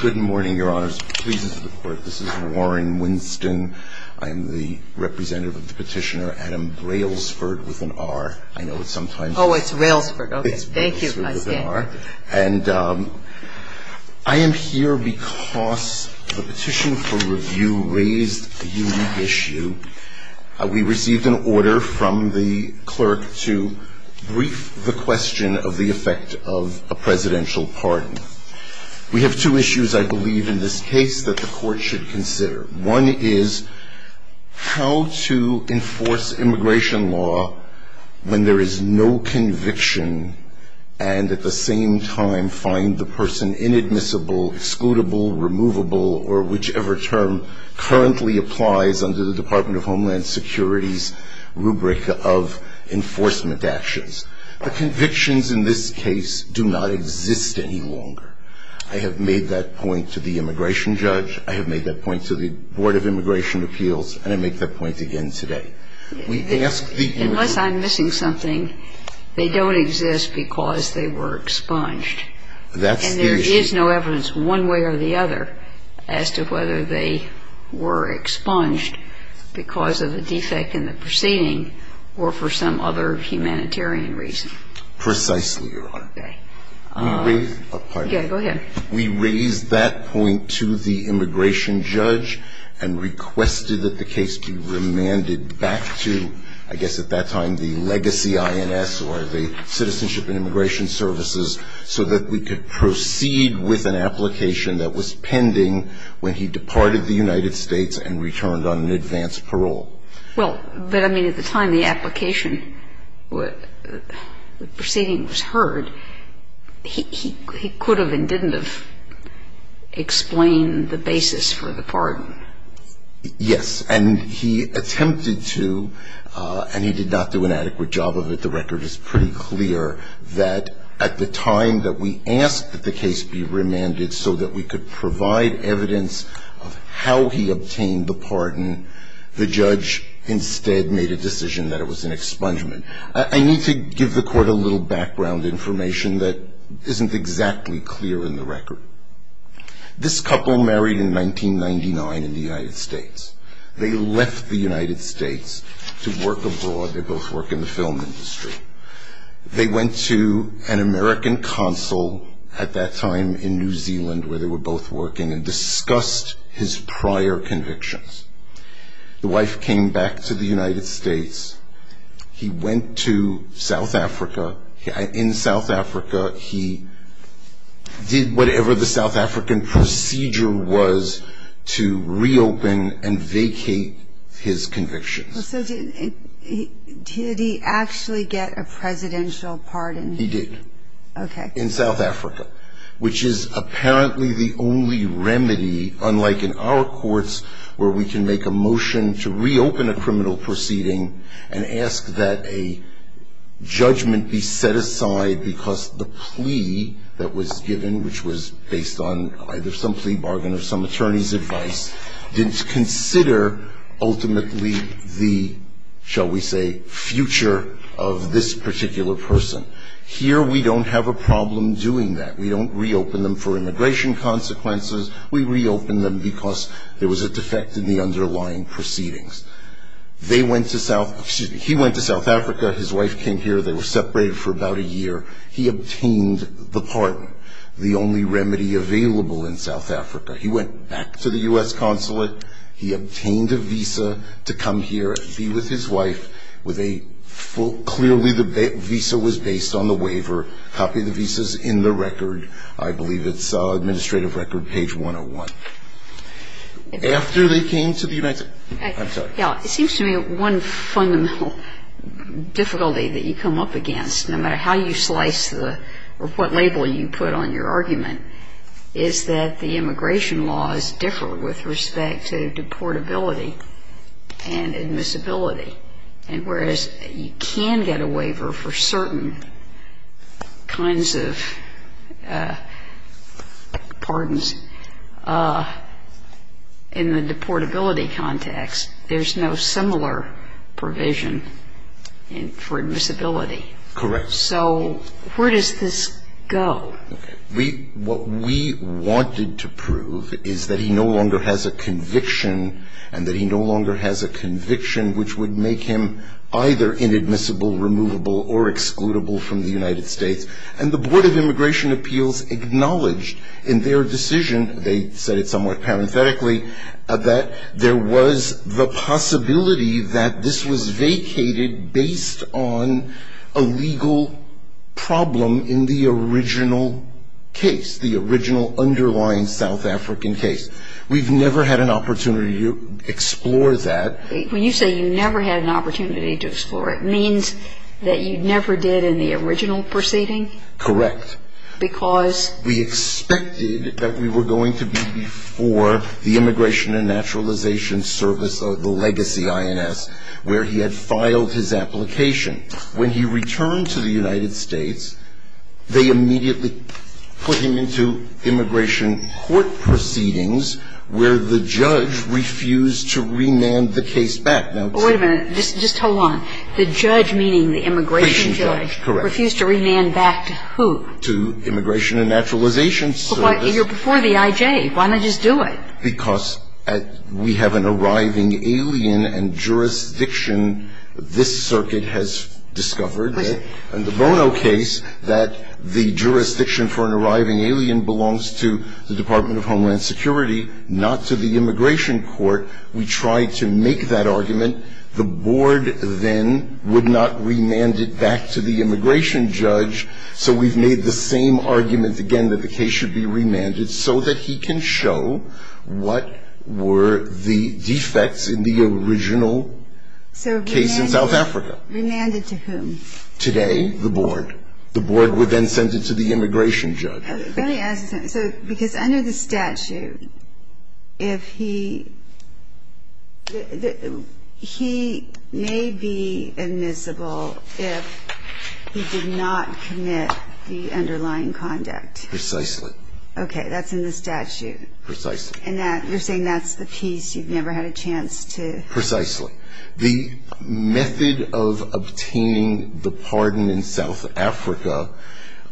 Good morning, your honors. Please enter the court. This is Warren Winston. I am the representative of the petitioner, Adam Railsford, with an R. I know it's sometimes... Oh, it's Railsford. Okay. Thank you. I stand by it. And I am here because the petition for review raised a unique issue. We received an order from the clerk to brief the question of the effect of a presidential pardon. We have two issues, I believe, in this case that the court should consider. One is how to enforce immigration law when there is no conviction, and at the same time find the person inadmissible, excludable, removable, or whichever term currently applies under the Department of Homeland Security's rubric of enforcement actions. The convictions in this case do not exist any longer. I have made that point to the immigration judge. I have made that point to the Board of Immigration Appeals. And I make that point again today. Unless I'm missing something, they don't exist because they were expunged. That's the issue. And there is no evidence one way or the other as to whether they were expunged because of the defect in the proceeding or for some other humanitarian reason. Precisely, Your Honor. Okay. Let me raise a point. Go ahead. We raised that point to the immigration judge and requested that the case be remanded back to, I guess at that time, the legacy INS or the Citizenship and Immigration Services so that we could proceed with an application that was pending when he departed the United States and returned on an advance parole. Well, but I mean, at the time the application, the proceeding was heard, he could have and didn't have explained the basis for the pardon. Yes. And he attempted to, and he did not do an adequate job of it. The record is pretty clear that at the time that we asked that the case be remanded so that we could provide evidence of how he obtained the pardon, the judge instead made a decision that it was an expungement. I need to give the court a little background information that isn't exactly clear in the record. This couple married in 1999 in the United States. They left the United States to work abroad. They both work in the film industry. They went to an American consul at that time in New Zealand, where they were both working, and discussed his prior convictions. The wife came back to the United States. He went to South Africa. In South Africa, he did whatever the South African procedure was to reopen and vacate his convictions. So did he actually get a presidential pardon? He did. Okay. In South Africa, which is apparently the only remedy, unlike in our courts, where we can make a motion to reopen a criminal proceeding and ask that a judgment be set aside because the plea that was given, which was based on either some plea or the plea, shall we say, future of this particular person. Here, we don't have a problem doing that. We don't reopen them for immigration consequences. We reopen them because there was a defect in the underlying proceedings. He went to South Africa. His wife came here. They were separated for about a year. He obtained the pardon, the only remedy available in South Africa. He went back to the U.S. consulate. He obtained a visa to come here and be with his wife. Clearly, the visa was based on the waiver. Copy the visas in the record. I believe it's Administrative Record, page 101. After they came to the United States. I'm sorry. Yeah, it seems to me one fundamental difficulty that you come up against, no matter how you slice the or what label you put on your argument, is that the immigration laws differ with respect to deportability and admissibility. And whereas you can get a waiver for certain kinds of pardons in the deportability context, there's no similar provision for admissibility. Correct. So where does this go? What we wanted to prove is that he no longer has a conviction, and that he no longer has a conviction which would make him either inadmissible, removable, or excludable from the United States. And the Board of Immigration Appeals acknowledged in their decision, they said it somewhat parenthetically, that there was the possibility that this was vacated based on a legal problem in the original case, the original underlying South African case. We've never had an opportunity to explore that. When you say you never had an opportunity to explore it, it means that you never did in the original proceeding? Correct. Because? We expected that we were going to be before the Immigration and Naturalization Service, the legacy INS, where he had filed his application. When he returned to the United States, they immediately put him into immigration court proceedings, where the judge refused to remand the case back. Now, to the Immigration and Naturalization Service. But wait a minute. Just hold on. The judge, meaning the immigration judge, refused to remand back to who? To Immigration and Naturalization Service. But you're before the I.J. Why not just do it? Because we have an arriving alien and jurisdiction. This circuit has discovered in the Bono case that the jurisdiction for an arriving alien belongs to the Department of Homeland Security, not to the immigration court. We tried to make that argument. The board then would not remand it back to the immigration judge. So we've made the same argument again that the case should be remanded so that he can show what were the defects in the original case in South Africa. So remanded to whom? Today, the board. The board would then send it to the immigration judge. Let me ask you something. Because under the statute, if he may be admissible if he did not commit the underlying conduct. Precisely. Okay. That's in the statute. Precisely. And you're saying that's the piece you've never had a chance to. Precisely. The method of obtaining the pardon in South Africa,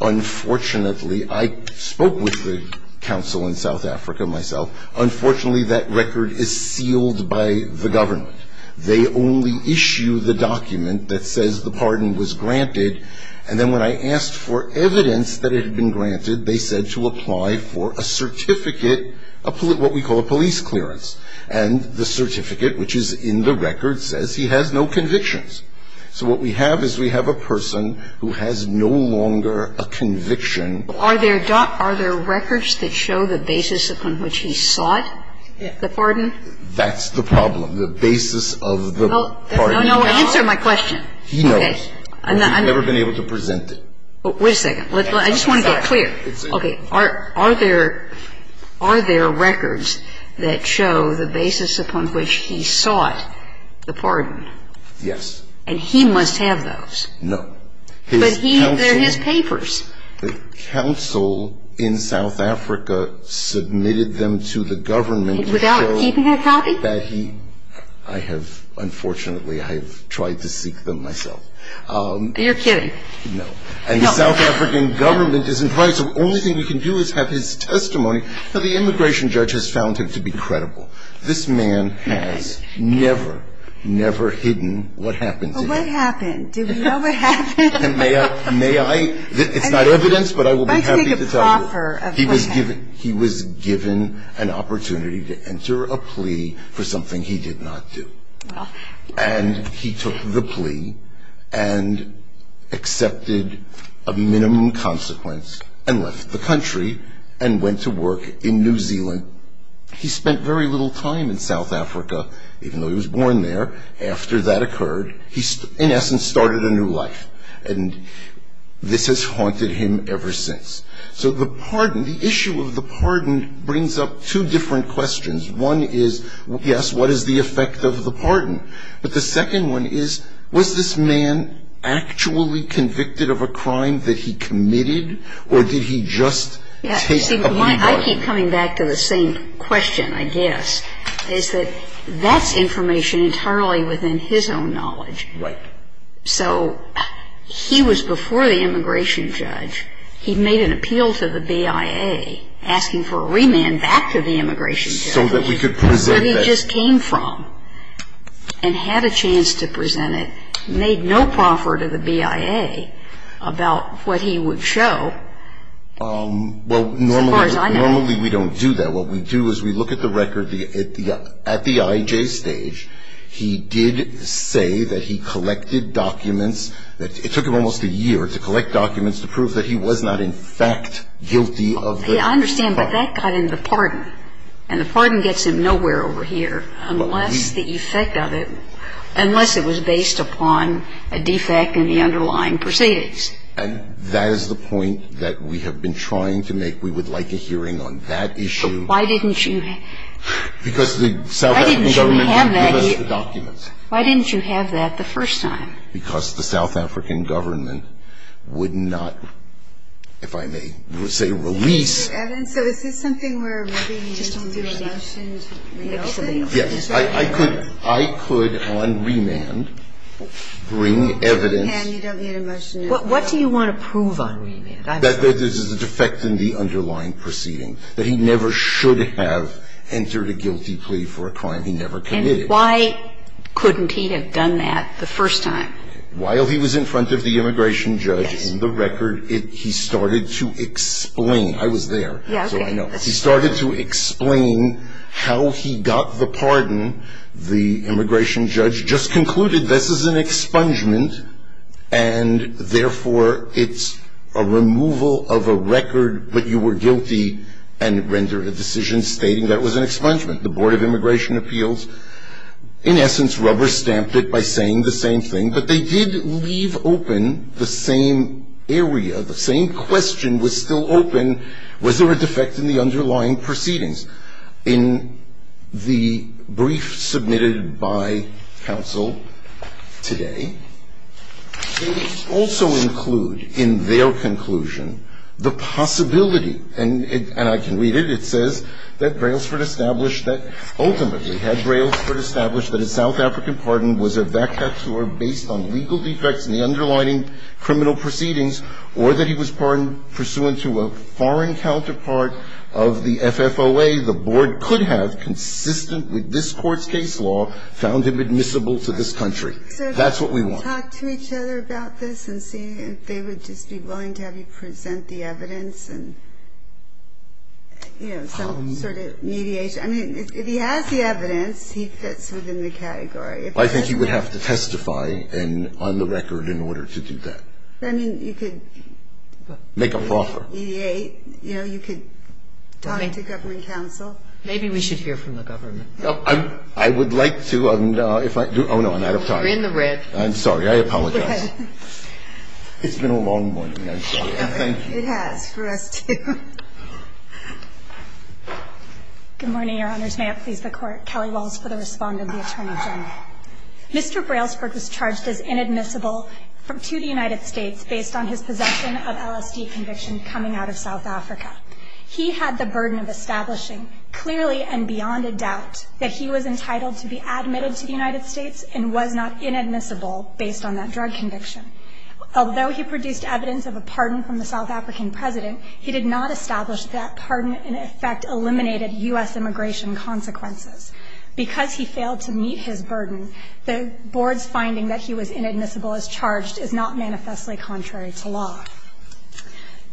unfortunately, I spoke with the council in South Africa myself. Unfortunately, that record is sealed by the government. They only issue the document that says the pardon was granted. And then when I asked for evidence that it had been granted, they said to apply for a certificate, what we call a police clearance. And the certificate, which is in the record, says he has no convictions. So what we have is we have a person who has no longer a conviction. Are there records that show the basis upon which he sought the pardon? That's the problem, the basis of the pardon. Answer my question. He knows. We've never been able to present it. Wait a second. I just want to get clear. Okay. Are there records that show the basis upon which he sought the pardon? Yes. And he must have those? No. But they're his papers. The council in South Africa submitted them to the government. Without keeping a copy? I have, unfortunately, I have tried to seek them myself. You're kidding. No. And the South African government is in crisis. The only thing we can do is have his testimony. Now, the immigration judge has found him to be credible. This man has never, never hidden what happened to him. Well, what happened? Do we know what happened? May I? It's not evidence, but I will be happy to tell you. I'd like to take a proffer of what happened. He was given an opportunity to enter a plea for something he did not do. And he took the plea and accepted a minimum consequence and left the country and went to work in New Zealand. He spent very little time in South Africa, even though he was born there. After that occurred, he, in essence, started a new life. And this has haunted him ever since. So the pardon, the issue of the pardon brings up two different questions. One is, yes, what is the effect of the pardon? But the second one is, was this man actually convicted of a crime that he committed, or did he just take a plea bargain? I keep coming back to the same question, I guess, is that that's information internally within his own knowledge. Right. So he was before the immigration judge. He made an appeal to the BIA asking for a remand back to the immigration judge. So that we could present that. That he just came from and had a chance to present it, made no proffer to the BIA about what he would show. Well, normally we don't do that. What we do is we look at the record at the IJ stage. He did say that he collected documents. It took him almost a year to collect documents to prove that he was not in fact guilty of the crime. I understand, but that got into the pardon. And the pardon gets him nowhere over here unless the effect of it, unless it was based upon a defect in the underlying proceedings. And that is the point that we have been trying to make. We would like a hearing on that issue. But why didn't you have that hearing? Why didn't you have that the first time? Because the South African government would not, if I may say, release. Mr. Evans, so is this something where maybe you need to do a motion to reopen? Yes. I could on remand bring evidence. And you don't need a motion to reopen. What do you want to prove on remand? That there's a defect in the underlying proceeding, that he never should have entered a guilty plea for a crime he never committed. And why couldn't he have done that the first time? While he was in front of the immigration judge. Yes. And the record, he started to explain. I was there, so I know. Yes, okay. He started to explain how he got the pardon. The immigration judge just concluded this is an expungement, and therefore, it's a removal of a record that you were guilty and rendered a decision stating that it was an expungement. The Board of Immigration Appeals, in essence, rubber-stamped it by saying the same thing. But they did leave open the same area, the same question was still open. Was there a defect in the underlying proceedings? In the brief submitted by counsel today, they also include in their conclusion the possibility, and I can read it, it says that Brailsford established that, ultimately, had Brailsford established that a South African pardon was a vacatur based on legal defects in the underlying criminal proceedings, or that he was pardoned pursuant to a foreign counterpart of the FFOA, the Board could have, consistent with this Court's case law, found him admissible to this country. That's what we want. So if they could talk to each other about this and see if they would just be willing to have you present the evidence and, you know, some sort of mediation. I mean, if he has the evidence, he fits within the category. I think he would have to testify on the record in order to do that. I mean, you could make a proffer. You know, you could talk to government counsel. Maybe we should hear from the government. I would like to. Oh, no, I'm out of time. You're in the red. I'm sorry. I apologize. Go ahead. It's been a long morning, I'm sorry. Thank you. It has for us, too. Good morning, Your Honors. May it please the Court. Kelly Walsh for the respondent, the Attorney General. Mr. Brailsford was charged as inadmissible to the United States based on his possession of LSD conviction coming out of South Africa. He had the burden of establishing clearly and beyond a doubt that he was entitled to be admitted to the United States and was not inadmissible based on that drug conviction. Although he produced evidence of a pardon from the South African president, he did not establish that pardon in effect eliminated U.S. immigration consequences. Because he failed to meet his burden, the Board's finding that he was inadmissible as charged is not manifestly contrary to law.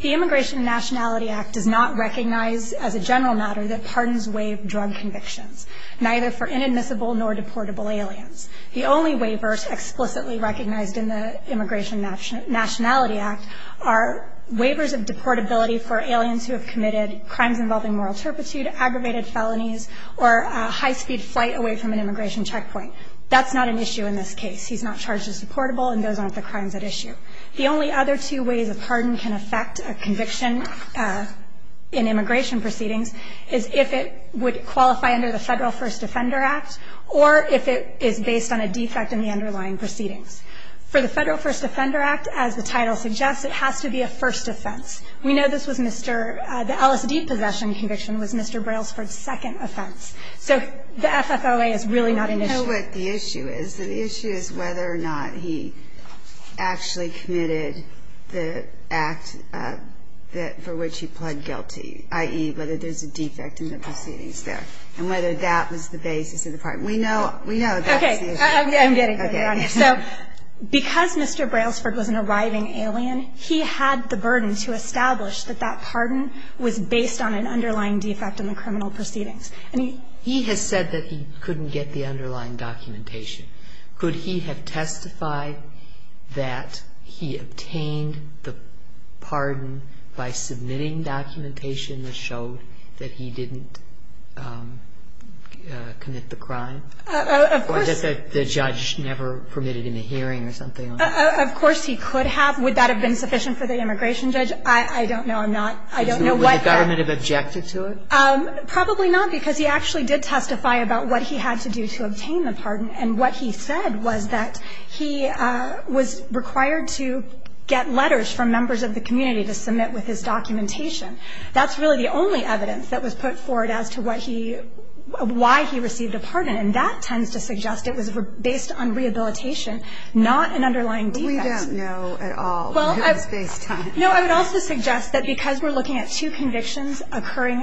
The Immigration and Nationality Act does not recognize as a general matter that pardons waive drug convictions, neither for inadmissible nor deportable aliens. The only waivers explicitly recognized in the Immigration and Nationality Act are waivers of deportability for aliens who have committed crimes involving moral turpitude, aggravated felonies, or high-speed flight away from an immigration checkpoint. That's not an issue in this case. He's not charged as deportable, and those aren't the crimes at issue. The only other two ways a pardon can affect a conviction in immigration proceedings is if it would qualify under the Federal First Offender Act or if it is based on a defect in the underlying proceedings. For the Federal First Offender Act, as the title suggests, it has to be a first offense. We know this was Mr. — the LSD possession conviction was Mr. Brailsford's second offense. So the FFOA is really not an issue. But the issue is, the issue is whether or not he actually committed the act for which he pled guilty, i.e., whether there's a defect in the proceedings there, and whether that was the basis of the pardon. We know that's the issue. Okay. I'm getting there, Your Honor. So because Mr. Brailsford was an arriving alien, he had the burden to establish that that pardon was based on an underlying defect in the criminal proceedings. And he — He has said that he couldn't get the underlying documentation. Could he have testified that he obtained the pardon by submitting documentation that showed that he didn't commit the crime? Of course. Or that the judge never permitted him a hearing or something like that? Of course he could have. Would that have been sufficient for the immigration judge? I don't know. I'm not — I don't know what the — Would the government have objected to it? Probably not, because he actually did testify about what he had to do to obtain the pardon. And what he said was that he was required to get letters from members of the community to submit with his documentation. That's really the only evidence that was put forward as to what he — why he received a pardon. And that tends to suggest it was based on rehabilitation, not an underlying defect. We don't know at all who was based on it. No. I would also suggest that because we're looking at two convictions occurring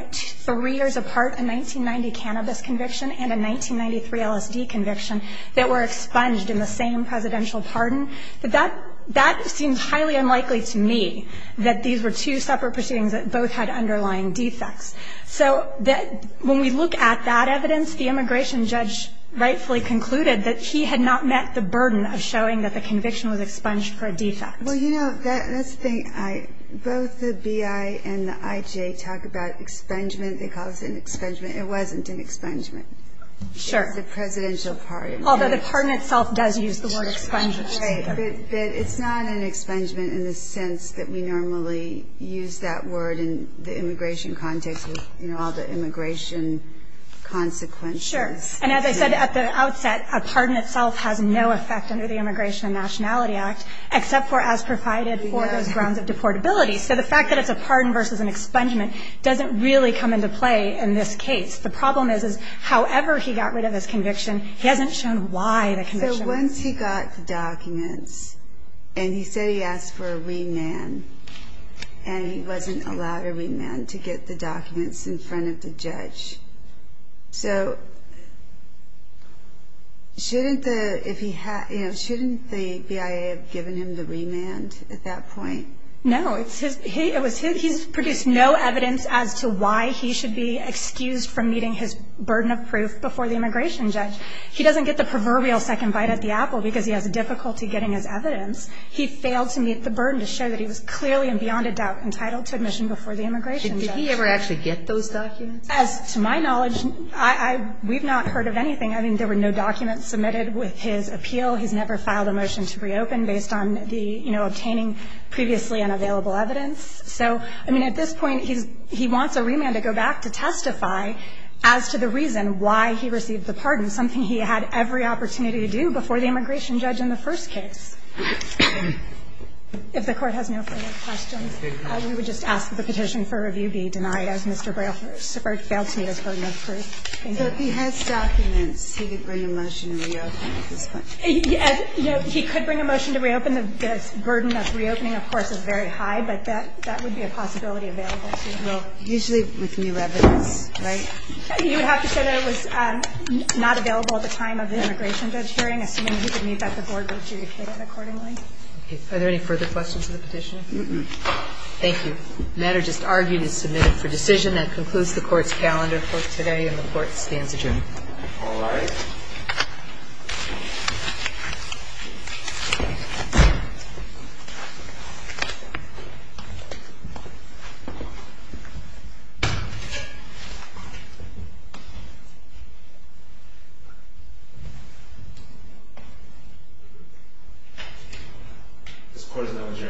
apart, a 1990 cannabis conviction and a 1993 LSD conviction, that were expunged in the same presidential pardon, that that seems highly unlikely to me that these were two separate proceedings that both had underlying defects. So when we look at that evidence, the immigration judge rightfully concluded that he had not met the burden of showing that the conviction was expunged for a defect. Well, you know, that's the thing. Both the B.I. and the I.J. talk about expungement. They call this an expungement. It wasn't an expungement. Sure. It's a presidential pardon. Although the pardon itself does use the word expungement. Right. But it's not an expungement in the sense that we normally use that word in the immigration context with all the immigration consequences. Sure. And as I said at the outset, a pardon itself has no effect under the Immigration and Nationality Act, except for as provided for those grounds of deportability. So the fact that it's a pardon versus an expungement doesn't really come into play in this case. The problem is, is however he got rid of his conviction, he hasn't shown why the conviction was used. So once he got the documents, and he said he asked for a remand, and he wasn't So shouldn't the B.I.A. have given him the remand at that point? No. It was his. He's produced no evidence as to why he should be excused from meeting his burden of proof before the immigration judge. He doesn't get the proverbial second bite at the apple because he has difficulty getting his evidence. He failed to meet the burden to show that he was clearly and beyond a doubt entitled to admission before the immigration judge. Did he ever actually get those documents? As to my knowledge, we've not heard of anything. I mean, there were no documents submitted with his appeal. He's never filed a motion to reopen based on the, you know, obtaining previously unavailable evidence. So, I mean, at this point, he wants a remand to go back to testify as to the reason why he received the pardon, something he had every opportunity to do before the immigration judge in the first case. If the Court has no further questions, we would just ask that the petition for review be denied as Mr. Brailford failed to meet his burden of proof. Thank you. If he has documents, he could bring a motion to reopen at this point. He could bring a motion to reopen. The burden of reopening, of course, is very high, but that would be a possibility available to him. Well, usually with new evidence, right? You would have to say that it was not available at the time of the immigration judge hearing, assuming he could meet that the Board would adjudicate it accordingly. Are there any further questions to the petition? No. Thank you. The matter just argued is submitted for decision. That concludes the Court's calendar for today, and the Court stands adjourned. All rise. This Court is now adjourned. Thank you.